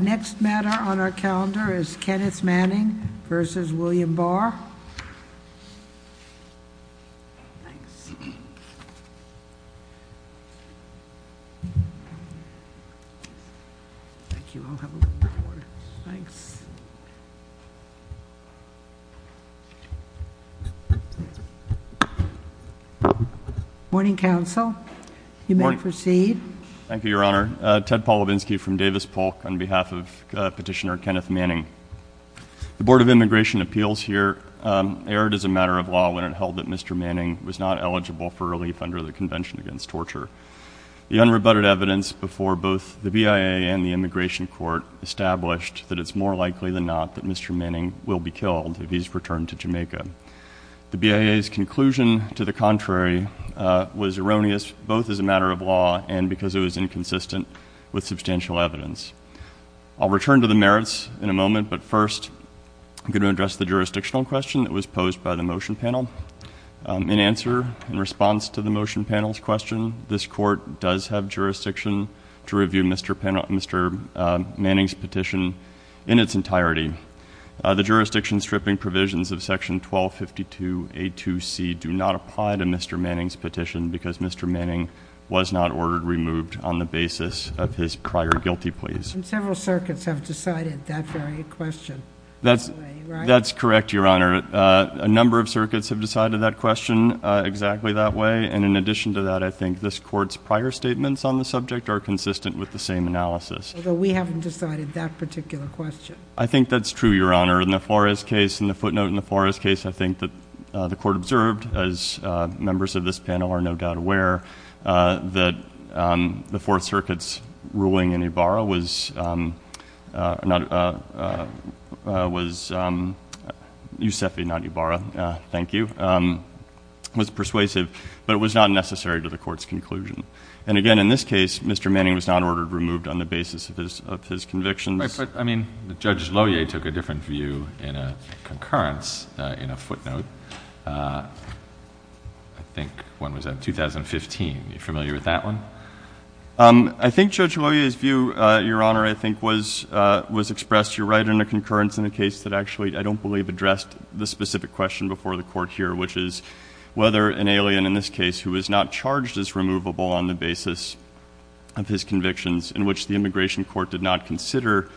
The next matter on our calendar is Kenneth Manning v. William Barr. Morning Council. You may proceed. Thank you, Your Honor. Ted Polovinsky from Davis Polk on behalf of Petitioner Kenneth Manning. The Board of Immigration Appeals here erred as a matter of law when it held that Mr. Manning was not eligible for relief under the Convention Against Torture. The unrebutted evidence before both the BIA and the Immigration Court established that it's more likely than not that Mr. Manning will be killed if he's returned to Jamaica. The BIA's conclusion to the contrary was erroneous both as a matter of law and because it was inconsistent with substantial evidence. I'll return to the merits in a moment, but first I'm going to address the jurisdictional question that was posed by the motion panel. In answer, in response to the motion panel's question, this Court does have jurisdiction to review Mr. Manning's petition in its entirety. The jurisdiction stripping provisions of Section 1252A2C do not apply to Mr. Manning's petition because Mr. Manning was not ordered removed on the basis of his prior guilty pleas. And several circuits have decided that very question that way, right? That's correct, Your Honor. A number of circuits have decided that question exactly that way. And in addition to that, I think this Court's prior statements on the subject are consistent with the same analysis. Although we haven't decided that particular question. I think that's true, Your Honor. In the Flores case, in the footnote in the Flores case, I think that the Court observed as members of this panel are no doubt aware, that the Fourth Circuit's ruling in Ibarra was, was, was persuasive, but it was not necessary to the Court's conclusion. And again, in this case, Mr. Manning was not ordered removed on the basis of his, of his convictions. I put, I mean, Judge Lohier took a different view in a concurrence in a footnote, I think when was that? 2015. Are you familiar with that one? I think Judge Lohier's view, Your Honor, I think was, was expressed, you're right, in a concurrence in a case that actually, I don't believe addressed the specific question before the Court here, which is whether an alien in this case who was not charged as removable on the basis of his convictions, in which the Immigration Court did not consider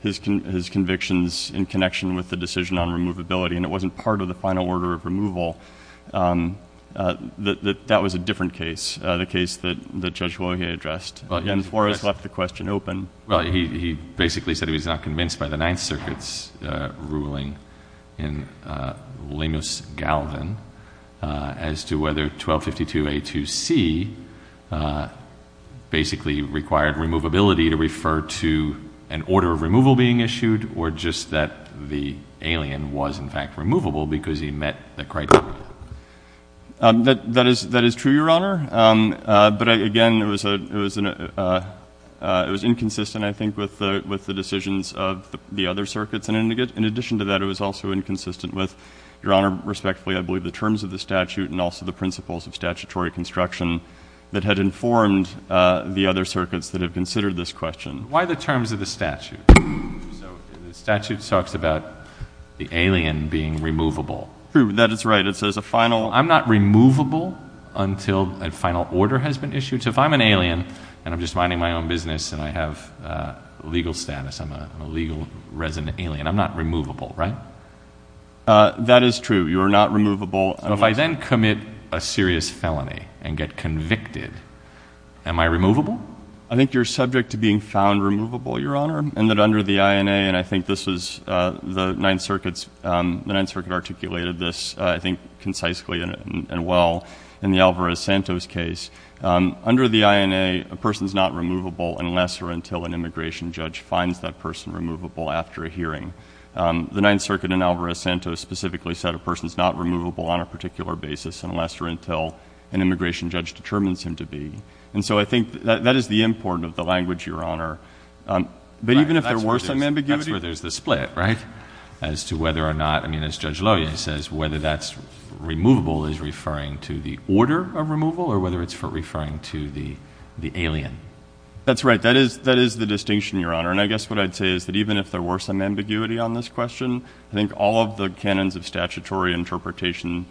his convictions in connection with the decision on removability, and it wasn't part of the final order of removal, that, that was a different case, the case that, that Judge Lohier addressed. Well, yes. And Flores left the question open. Well, he, he basically said he was not convinced by the Ninth Circuit's ruling in Lemus-Galvin as to whether 1252A2C basically required removability to refer to an order of removal being issued, or just that the alien was, in fact, removable because he met the criteria? That is, that is true, Your Honor, but again, it was, it was, it was inconsistent, I think, with the decisions of the other circuits, and in addition to that, it was also inconsistent with, Your Honor, respectfully, I believe, the terms of the statute and also the principles of statutory construction that had informed the other circuits that have considered this question. Why the terms of the statute? So the statute talks about the alien being removable. True. That is right. It says a final… I'm not removable until a final order has been issued. So if I'm an alien and I'm just minding my own business and I have legal status, I'm a legal resident alien, I'm not removable, right? That is true. You are not removable. So if I then commit a serious felony and get convicted, am I removable? I think you're subject to being found removable, Your Honor, and that under the INA, and I think this was the Ninth Circuit's, the Ninth Circuit articulated this, I think, concisely and well in the Alvarez-Santos case. Under the INA, a person's not removable unless or until an immigration judge finds that person removable after a hearing. The Ninth Circuit in Alvarez-Santos specifically said a person's not removable on a particular basis unless or until an immigration judge determines him to be. And so I think that is the importance of the language, Your Honor. But even if there were some ambiguity… That's where there's the split, right? As to whether or not, I mean, as Judge Lowy says, whether that's removable is referring to the order of removal or whether it's referring to the alien? That's right. That is the distinction, Your Honor, and I guess what I'd say is that even if there were some ambiguity on this question, I think all of the canons of statutory interpretation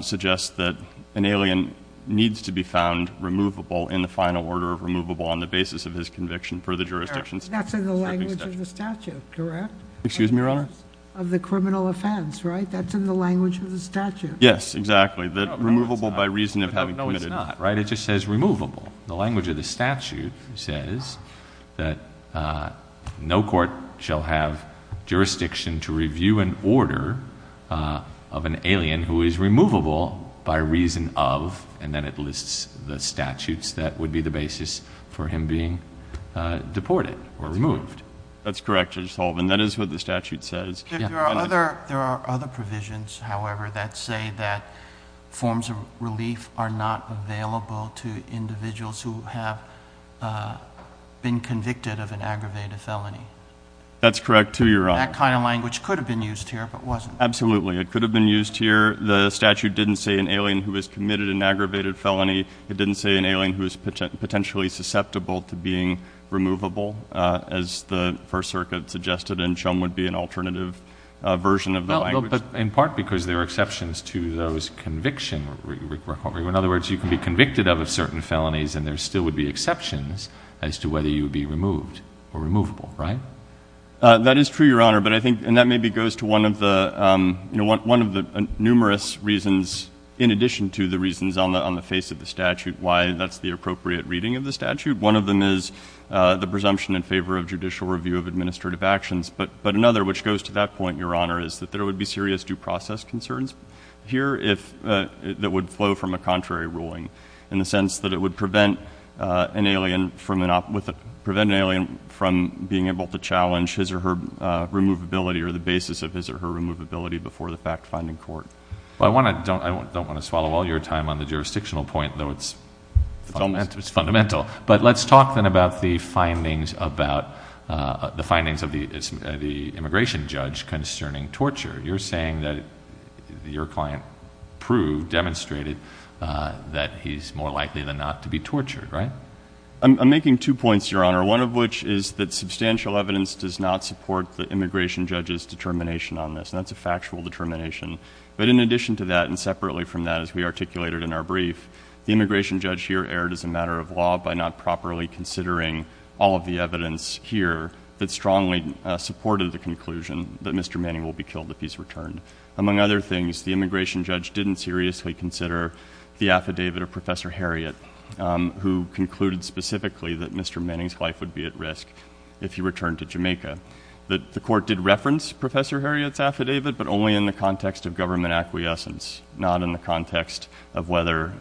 suggest that an alien needs to be found removable in the final order of removable on the basis of his conviction for the jurisdiction. That's in the language of the statute, correct? Excuse me, Your Honor? Of the criminal offense, right? That's in the language of the statute. Yes, exactly. No, it's not. Removable by reason of having committed… No, it's not, right? It just says removable. The language of the statute says that no court shall have jurisdiction to review an order of an alien who is removable by reason of, and then it lists the statutes that would be the basis for him being deported or removed. That's correct, Judge Sullivan. That is what the statute says. There are other provisions, however, that say that forms of relief are not available to individuals who have been convicted of an aggravated felony. That's correct, too, Your Honor. That kind of language could have been used here, but wasn't. Absolutely. It could have been used here. The statute didn't say an alien who has committed an aggravated felony. It didn't say an alien who is potentially susceptible to being removable, as the First Circuit suggested and shown would be an alternative version of the language. In part because there are exceptions to those conviction requirements. In other words, you can be convicted of certain felonies and there still would be exceptions as to whether you would be removed or removable, right? That is true, Your Honor. But I think, and that maybe goes to one of the numerous reasons, in addition to the reasons on the face of the statute, why that's the appropriate reading of the statute. One of them is the presumption in favor of judicial review of administrative actions. But another, which goes to that point, Your Honor, is that there would be serious due contrary ruling in the sense that it would prevent an alien from being able to challenge his or her removability or the basis of his or her removability before the fact-finding court. I don't want to swallow all your time on the jurisdictional point, though it's fundamental. But let's talk then about the findings of the immigration judge concerning torture. You're saying that your client proved, demonstrated that he's more likely than not to be tortured, right? I'm making two points, Your Honor. One of which is that substantial evidence does not support the immigration judge's determination on this. And that's a factual determination. But in addition to that and separately from that, as we articulated in our brief, the immigration judge here erred as a matter of law by not properly considering all of the Among other things, the immigration judge didn't seriously consider the affidavit of Professor Harriot, who concluded specifically that Mr. Manning's life would be at risk if he returned to Jamaica. The court did reference Professor Harriot's affidavit, but only in the context of government acquiescence, not in the context of whether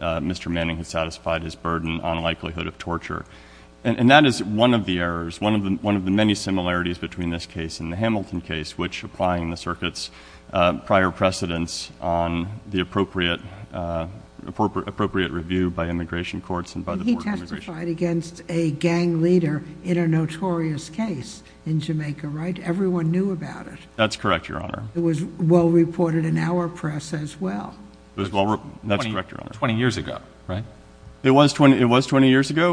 Mr. Manning had satisfied his burden on likelihood of torture. And that is one of the errors, one of the many similarities between this case and the circuit's prior precedence on the appropriate review by immigration courts and by the Board of Immigration. He testified against a gang leader in a notorious case in Jamaica, right? Everyone knew about it. That's correct, Your Honor. It was well reported in our press as well. That's correct, Your Honor. Twenty years ago, right? It was twenty years ago.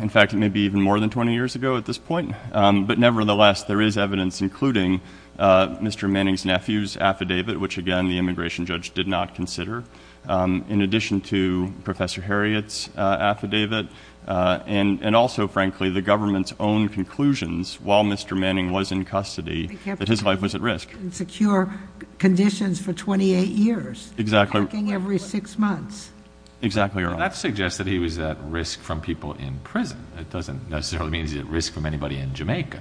In fact, it may be even more than twenty years ago at this point. But nevertheless, there is evidence, including Mr. Manning's nephew's affidavit, which again the immigration judge did not consider, in addition to Professor Harriot's affidavit, and also, frankly, the government's own conclusions while Mr. Manning was in custody that his life was at risk. They kept him in secure conditions for twenty-eight years, packing every six months. Exactly right. That suggests that he was at risk from people in prison. That doesn't necessarily mean he was at risk from anybody in Jamaica.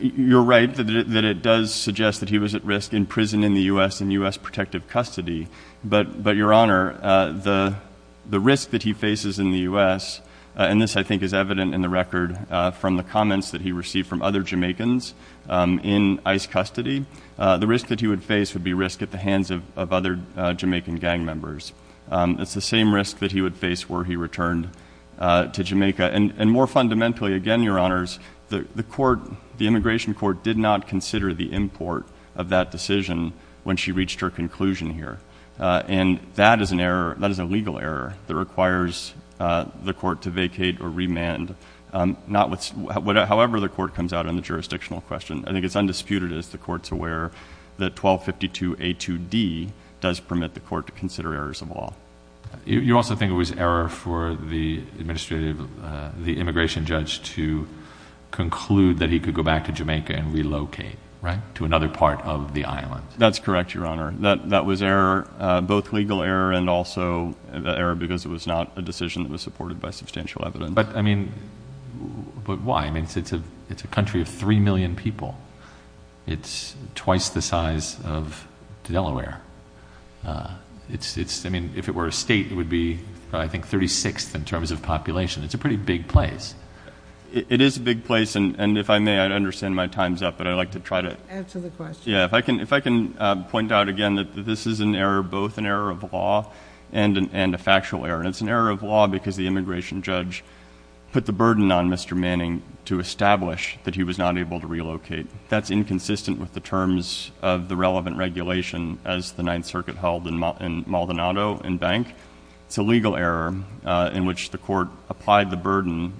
You're right that it does suggest that he was at risk in prison in the U.S. in U.S. protective custody. But Your Honor, the risk that he faces in the U.S., and this I think is evident in the record from the comments that he received from other Jamaicans in ICE custody, the risk that he would face would be risk at the hands of other Jamaican gang members. It's the same risk that he would face were he returned to Jamaica. And more fundamentally, again, Your Honors, the immigration court did not consider the import of that decision when she reached her conclusion here. And that is a legal error that requires the court to vacate or remand, however the court comes out on the jurisdictional question. I think it's undisputed, as the court's aware, that 1252A2D does permit the court to consider errors of law. You also think it was error for the immigration judge to conclude that he could go back to Jamaica and relocate, right, to another part of the island? That's correct, Your Honor. That was error, both legal error and also error because it was not a decision that was supported by substantial evidence. But I mean, but why? I mean, it's a country of three million people. It's twice the size of Delaware. It's, I mean, if it were a state, it would be, I think, thirty-sixth in terms of population. It's a pretty big place. It is a big place, and if I may, I understand my time's up, but I'd like to try to... Answer the question. Yeah. If I can point out again that this is an error, both an error of law and a factual error. And it's an error of law because the immigration judge put the burden on Mr. Manning to establish that he was not able to relocate. I think that's inconsistent with the terms of the relevant regulation as the Ninth Circuit held in Maldonado and Bank. It's a legal error in which the court applied the burden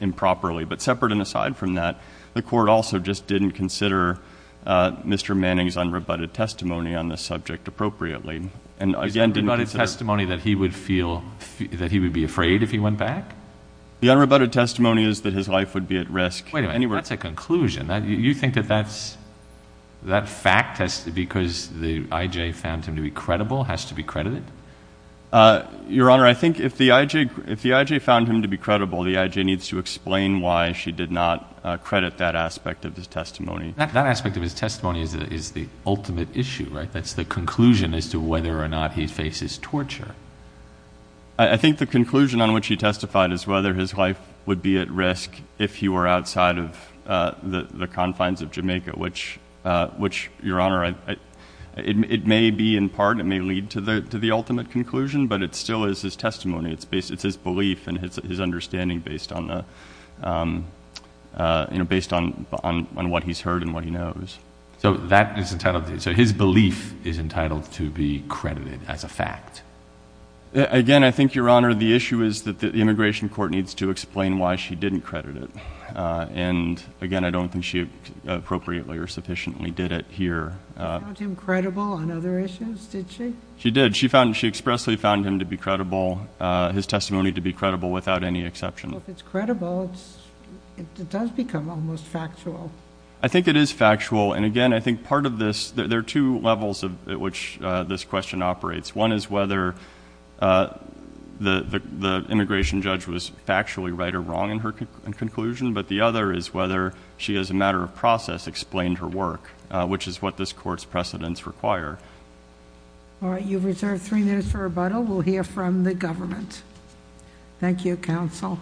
improperly. But separate and aside from that, the court also just didn't consider Mr. Manning's unrebutted testimony on this subject appropriately and again didn't consider... His unrebutted testimony that he would feel, that he would be afraid if he went back? The unrebutted testimony is that his life would be at risk... Wait a minute. That's a conclusion. You think that that fact, because the I.J. found him to be credible, has to be credited? Your Honor, I think if the I.J. found him to be credible, the I.J. needs to explain why she did not credit that aspect of his testimony. That aspect of his testimony is the ultimate issue, right? That's the conclusion as to whether or not he faces torture. I think the conclusion on which he testified is whether his life would be at risk if he were outside of the confines of Jamaica, which, Your Honor, it may be in part, it may lead to the ultimate conclusion, but it still is his testimony. It's his belief and his understanding based on what he's heard and what he knows. So that is entitled... so his belief is entitled to be credited as a fact? Again, I think, Your Honor, the issue is that the immigration court needs to explain why she didn't credit it, and again, I don't think she appropriately or sufficiently did it here. She found him credible on other issues, did she? She did. She expressly found him to be credible, his testimony to be credible, without any exception. Well, if it's credible, it does become almost factual. I think it is factual, and again, I think part of this... there are two levels at which this question operates. One is whether the immigration judge was factually right or wrong in her conclusion, but the other is whether she, as a matter of process, explained her work, which is what this Court's precedents require. All right. You've reserved three minutes for rebuttal. We'll hear from the government. Thank you, Counsel.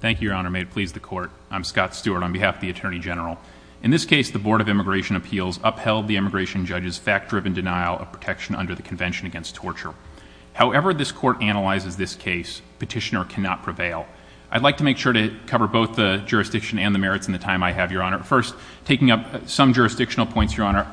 Thank you, Your Honor. May it please the Court. I'm Scott Stewart on behalf of the Attorney General. In this case, the Board of Immigration Appeals upheld the immigration judge's fact-driven denial of protection under the Convention Against Torture. However, this Court analyzes this case, Petitioner cannot prevail. I'd like to make sure to cover both the jurisdiction and the merits in the time I have, Your Honor. First, taking up some jurisdictional points, Your Honor,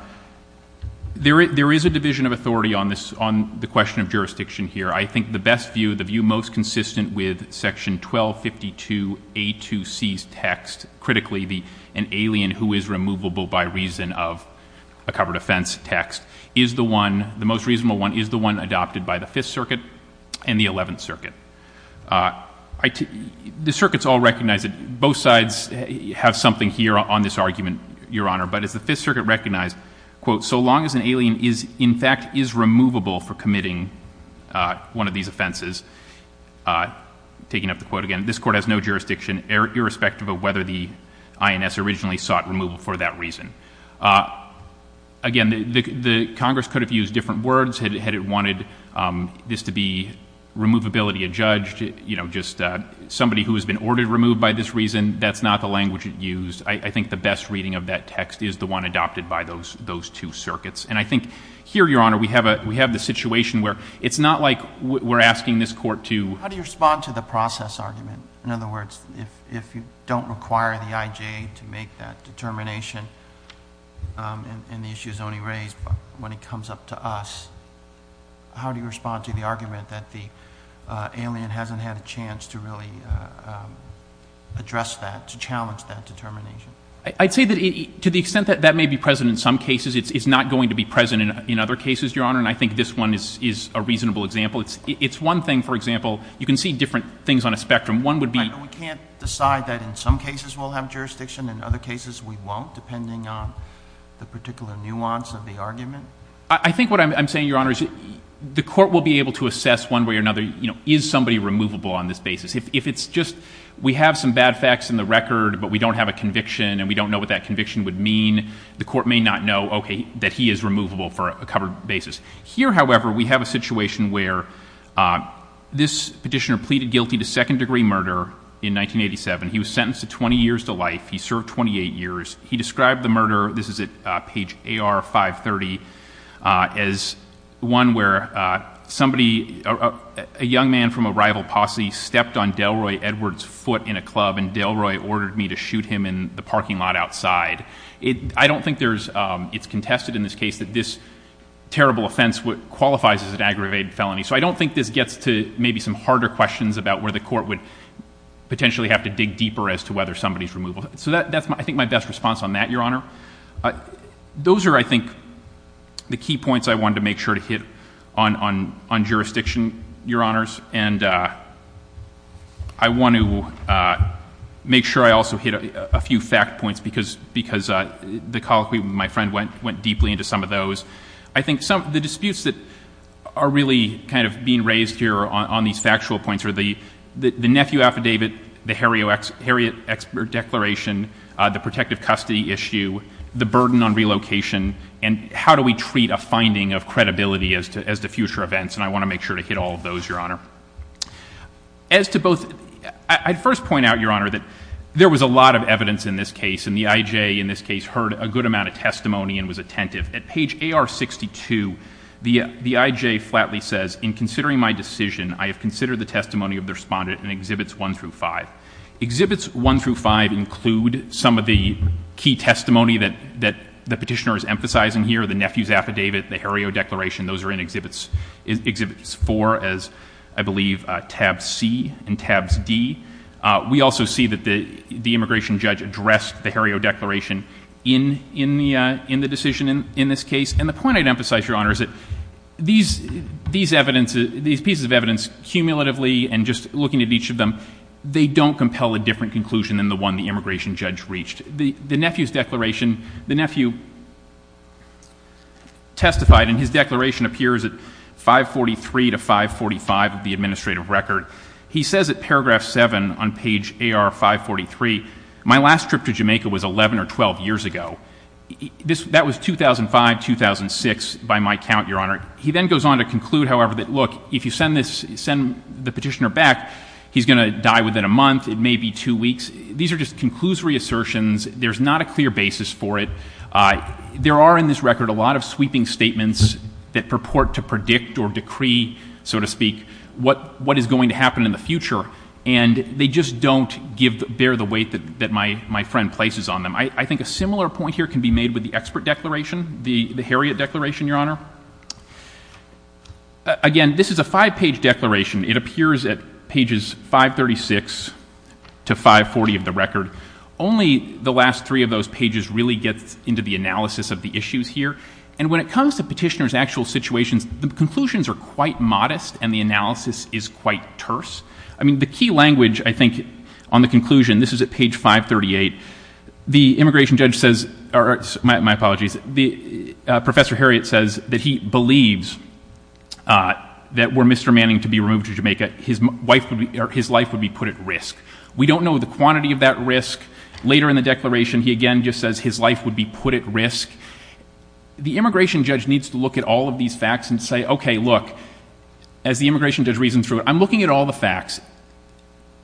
there is a division of authority on the question of jurisdiction here. I think the best view, the view most consistent with Section 1252A2C's text, critically, an alien who is removable by reason of a covered offense text, is the one, the most reasonable one, is the one adopted by the Fifth Circuit and the Eleventh Circuit. The circuits all recognize that both sides have something here on this argument, Your Honor, but as the Fifth Circuit recognized, quote, so long as an alien is, in fact, is one of these offenses, taking up the quote again, this Court has no jurisdiction irrespective of whether the INS originally sought removal for that reason. Again, the Congress could have used different words had it wanted this to be removability adjudged, you know, just somebody who has been ordered removed by this reason. That's not the language it used. I think the best reading of that text is the one adopted by those two circuits. And I think here, Your Honor, we have the situation where it's not like we're asking this Court to How do you respond to the process argument? In other words, if you don't require the IJ to make that determination, and the issue is only raised when it comes up to us, how do you respond to the argument that the alien hasn't had a chance to really address that, to challenge that determination? I'd say that to the extent that that may be present in some cases, it's not going to be present in other cases, Your Honor, and I think this one is a reasonable example. It's one thing, for example, you can see different things on a spectrum. One would be Right, but we can't decide that in some cases we'll have jurisdiction, in other cases we won't, depending on the particular nuance of the argument. I think what I'm saying, Your Honor, is the Court will be able to assess one way or another, you know, is somebody removable on this basis. If it's just, we have some bad facts in the record, but we don't have a conviction, and we don't know what that conviction would mean, the Court may not know, okay, that he is removable for a covered basis. Here, however, we have a situation where this petitioner pleaded guilty to second degree murder in 1987. He was sentenced to 20 years to life. He served 28 years. He described the murder, this is at page AR530, as one where somebody, a young man from a club, shot Delroy Edwards' foot in a club, and Delroy ordered me to shoot him in the parking lot outside. I don't think it's contested in this case that this terrible offense qualifies as an aggravated felony. So I don't think this gets to maybe some harder questions about where the Court would potentially have to dig deeper as to whether somebody's removable. So that's, I think, my best response on that, Your Honor. Those are, I think, the key points I wanted to make sure to hit on jurisdiction, Your Honor. I want to make sure I also hit a few fact points, because the colloquy with my friend went deeply into some of those. I think the disputes that are really kind of being raised here on these factual points are the nephew affidavit, the Harriet expert declaration, the protective custody issue, the burden on relocation, and how do we treat a finding of credibility as to future events. And I want to make sure to hit all of those, Your Honor. As to both, I'd first point out, Your Honor, that there was a lot of evidence in this case, and the I.J. in this case heard a good amount of testimony and was attentive. At page AR62, the I.J. flatly says, in considering my decision, I have considered the testimony of the respondent in Exhibits I through V. Exhibits I through V include some of the key testimony that the petitioner is emphasizing here, the nephew's affidavit, the Harriet declaration. Those are in Exhibits IV as, I believe, Tabs C and Tabs D. We also see that the immigration judge addressed the Harriet declaration in the decision in this case. And the point I'd emphasize, Your Honor, is that these pieces of evidence, cumulatively and just looking at each of them, they don't compel a different conclusion than the one the immigration judge reached. The nephew testified, and his declaration appears at 543 to 545 of the administrative record. He says at paragraph 7 on page AR543, my last trip to Jamaica was 11 or 12 years ago. That was 2005, 2006, by my count, Your Honor. He then goes on to conclude, however, that, look, if you send the petitioner back, he's going to die within a month, it may be two weeks. These are just conclusory assertions. There's not a clear basis for it. There are in this record a lot of sweeping statements that purport to predict or decree, so to speak, what is going to happen in the future. And they just don't bear the weight that my friend places on them. I think a similar point here can be made with the expert declaration, the Harriet declaration, Your Honor. Again, this is a five-page declaration. It appears at pages 536 to 540 of the record. Only the last three of those pages really get into the analysis of the issues here. And when it comes to petitioner's actual situations, the conclusions are quite modest and the analysis is quite terse. I mean, the key language, I think, on the conclusion, this is at page 538, the immigration judge says, or my apologies, Professor Harriet says that he believes that were Mr. Manning to be removed to Jamaica, his life would be put at risk. We don't know the quantity of that risk. Later in the declaration, he again just says his life would be put at risk. The immigration judge needs to look at all of these facts and say, okay, look, as the immigration judge reasons through it, I'm looking at all the facts.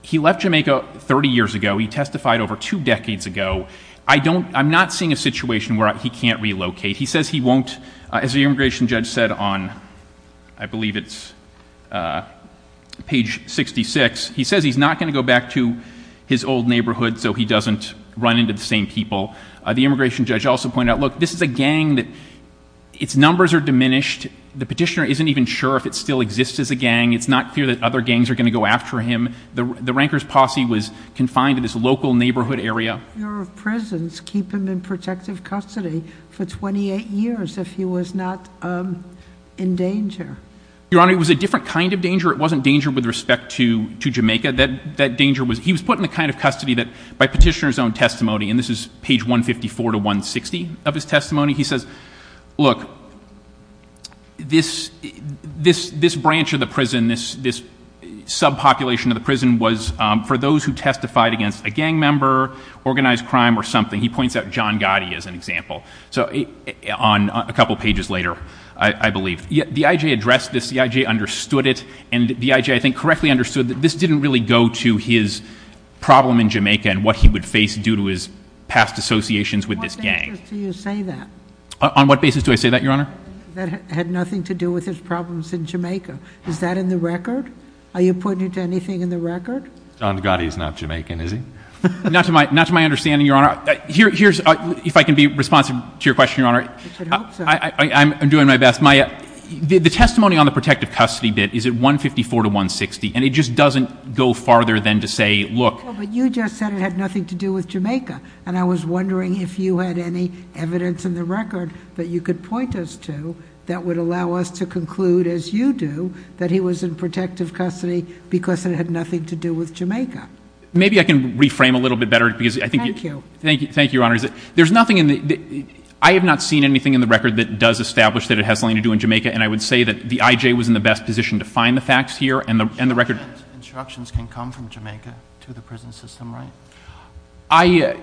He left Jamaica 30 years ago. He testified over two decades ago. I'm not seeing a situation where he can't relocate. He says he won't, as the immigration judge said on, I believe it's page 66, he says he's not going to go back to his old neighborhood so he doesn't run into the same people. The immigration judge also pointed out, look, this is a gang that its numbers are diminished. The petitioner isn't even sure if it still exists as a gang. It's not clear that other gangs are going to go after him. The ranker's posse was confined to this local neighborhood area. The Bureau of Prisons keep him in protective custody for 28 years if he was not in danger. Your Honor, it was a different kind of danger. It wasn't danger with respect to Jamaica. That danger was, he was put in the kind of custody that by petitioner's own testimony, and this is page 154 to 160 of his testimony, he says, look, this branch of the prison, this subpopulation of the prison was for those who testified against a gang member organized crime or something. He points out John Gotti as an example. So on a couple of pages later, I believe, the IJ addressed this, the IJ understood it, and the IJ, I think, correctly understood that this didn't really go to his problem in Jamaica and what he would face due to his past associations with this gang. On what basis do you say that? On what basis do I say that, Your Honor? That had nothing to do with his problems in Jamaica. Is that in the record? Are you pointing to anything in the record? John Gotti is not Jamaican, is he? Not to my understanding, Your Honor. Here's, if I can be responsive to your question, Your Honor. I should hope so. I'm doing my best. My, the testimony on the protective custody bit is at 154 to 160, and it just doesn't go farther than to say, look. Well, but you just said it had nothing to do with Jamaica, and I was wondering if you had any evidence in the record that you could point us to that would allow us to conclude, as you do, that he was in protective custody because it had nothing to do with Jamaica. Maybe I can reframe a little bit better because I think you... Thank you. Thank you. Thank you, Your Honor. Is it, there's nothing in the, I have not seen anything in the record that does establish that it has something to do in Jamaica, and I would say that the IJ was in the best position to find the facts here and the, and the record... Instructions can come from Jamaica to the prison system, right? I,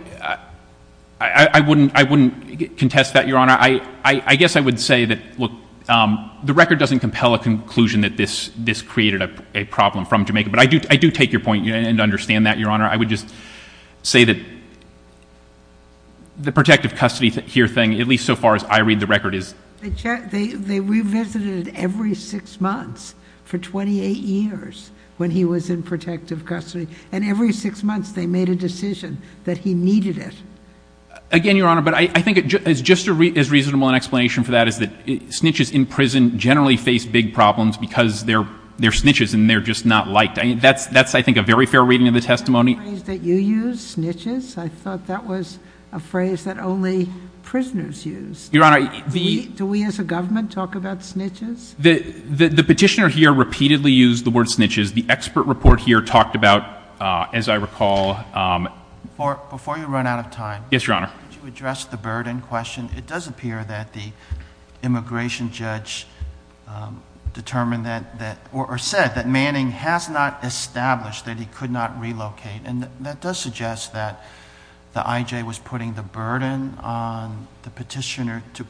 I wouldn't, I wouldn't contest that, Your Honor. I, I guess I would say that, look, the record doesn't compel a conclusion that this, this created a problem from Jamaica, but I do, I do take your point and, and understand that, Your Honor. I would just say that the protective custody here thing, at least so far as I read the record, is... They checked, they, they revisited it every six months for 28 years when he was in protective custody. And every six months they made a decision that he needed it. Again, Your Honor, but I think it's just as reasonable an explanation for that is that snitches in prison generally face big problems because they're, they're snitches and they're just not liked. I mean, that's, that's, I think, a very fair reading of the testimony. Is that a phrase that you use, snitches? I thought that was a phrase that only prisoners use. Your Honor, the... Do we as a government talk about snitches? The, the, the petitioner here repeatedly used the word snitches. The expert report here talked about, as I recall... Before, before you run out of time... Yes, Your Honor. ...could you address the Burden question? It does appear that the immigration judge determined that, that, or said that established that he could not relocate. And that does suggest that the IJ was putting the burden on the petitioner to,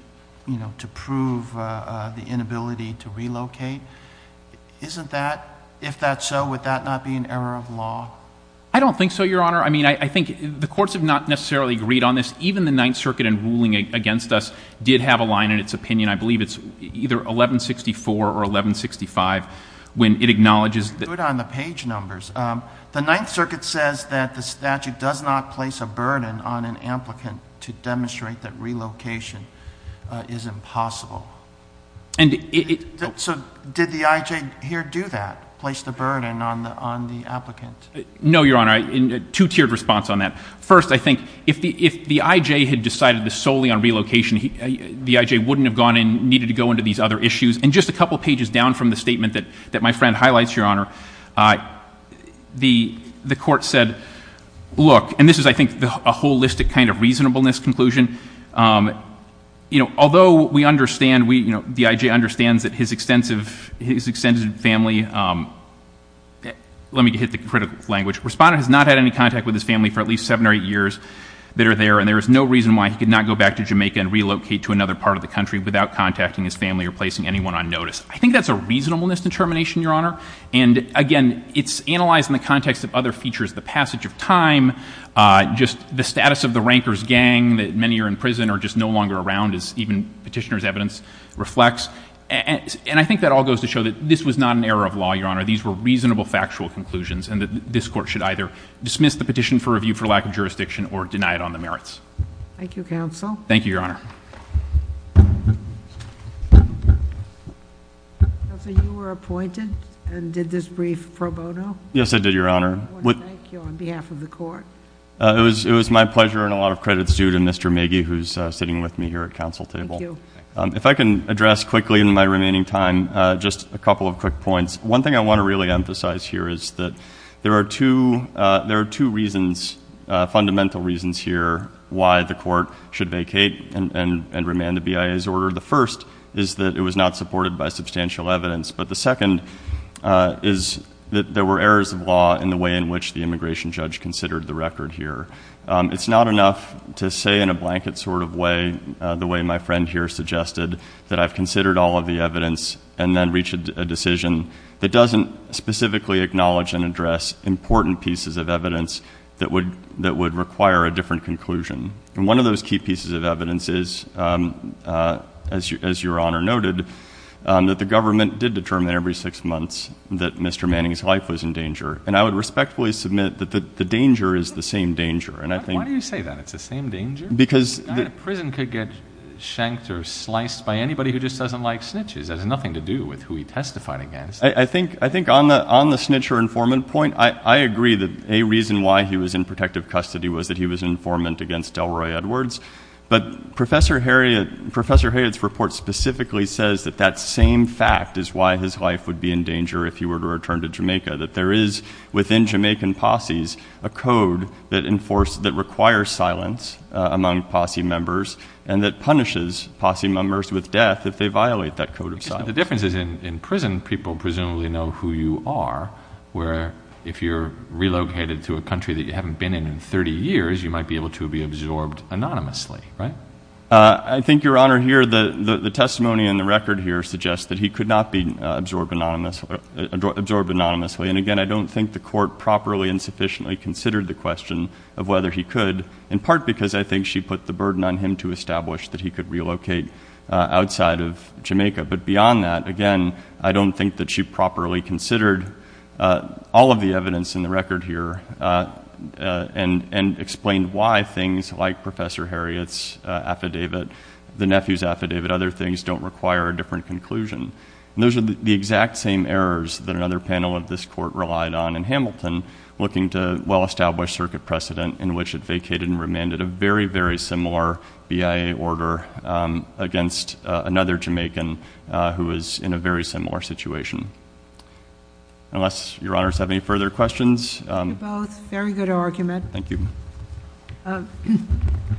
you know, to prove, uh, uh, the inability to relocate. Isn't that, if that's so, would that not be an error of law? I don't think so, Your Honor. I mean, I think the courts have not necessarily agreed on this. Even the Ninth Circuit in ruling against us did have a line in its opinion. I believe it's either 1164 or 1165 when it acknowledges that... Page numbers. Um, the Ninth Circuit says that the statute does not place a burden on an applicant to demonstrate that relocation, uh, is impossible. And it... So did the IJ here do that? Place the burden on the, on the applicant? No, Your Honor. I, in a two-tiered response on that. First, I think if the, if the IJ had decided this solely on relocation, he, uh, the IJ wouldn't have gone in, needed to go into these other issues. And just a couple of pages down from the statement that, that my friend highlights, Your Honor, uh, the, the court said, look, and this is, I think, a holistic kind of reasonableness conclusion, um, you know, although we understand, we, you know, the IJ understands that his extensive, his extended family, um, let me hit the critical language, respondent has not had any contact with his family for at least seven or eight years that are there, and there is no reason why he could not go back to Jamaica and relocate to another part of the country without contacting his family or placing anyone on notice. I think that's a reasonableness determination, Your Honor. And again, it's analyzed in the context of other features, the passage of time, uh, just the status of the Ranker's gang that many are in prison or just no longer around as even petitioner's evidence reflects. And I think that all goes to show that this was not an error of law, Your Honor. These were reasonable factual conclusions and that this court should either dismiss the petition for review for lack of jurisdiction or deny it on the merits. Thank you, counsel. Thank you, Your Honor. Counselor, you were appointed and did this brief pro bono? Yes, I did, Your Honor. I want to thank you on behalf of the court. Uh, it was, it was my pleasure and a lot of credit's due to Mr. Magee, who's sitting with me here at council table. Um, if I can address quickly in my remaining time, uh, just a couple of quick points. One thing I want to really emphasize here is that there are two, uh, there are two reasons, uh, fundamental reasons here why the court should vacate and, and, and remand the BIA's order. The first is that it was not supported by substantial evidence. But the second, uh, is that there were errors of law in the way in which the immigration judge considered the record here. Um, it's not enough to say in a blanket sort of way, uh, the way my friend here suggested that I've considered all of the evidence and then reached a decision that doesn't specifically acknowledge and address important pieces of evidence that would, that would require a different conclusion. And one of those key pieces of evidence is, um, uh, as you, as your honor noted, um, that the government did determine every six months that Mr. Manning's life was in danger. And I would respectfully submit that the danger is the same danger. And I think you say that it's the same danger because prison could get shanked or sliced by anybody who just doesn't like snitches as nothing to do with who he testified against. I think, I think on the, on the snitch or informant point, I agree that a reason why he was in protective custody was that he was an informant against Delroy Edwards, but Professor Harriot, Professor Harriot's report specifically says that that same fact is why his life would be in danger if he were to return to Jamaica, that there is within Jamaican posse's a code that enforced, that requires silence among posse members and that punishes posse members with death if they violate that code of silence. The difference is in prison, people presumably know who you are, where if you're relocated to a country that you haven't been in in 30 years, you might be able to be absorbed anonymously, right? Uh, I think Your Honor, here, the, the, the testimony in the record here suggests that he could not be absorbed anonymously, absorbed anonymously. And again, I don't think the court properly and sufficiently considered the question of whether he could, in part because I think she put the burden on him to establish that he could relocate outside of Jamaica. But beyond that, again, I don't think that she properly considered, uh, all of the evidence in the record here, uh, uh, and, and explained why things like Professor Harriot's, uh, affidavit, the nephew's affidavit, other things don't require a different conclusion. And those are the exact same errors that another panel of this court relied on in Hamilton, looking to well-established circuit precedent in which it vacated and remanded a very, very similar BIA order, um, against, uh, another Jamaican, uh, who was in a very similar situation. Unless your honors have any further questions. Um. You're both very good argument. Thank you. Um.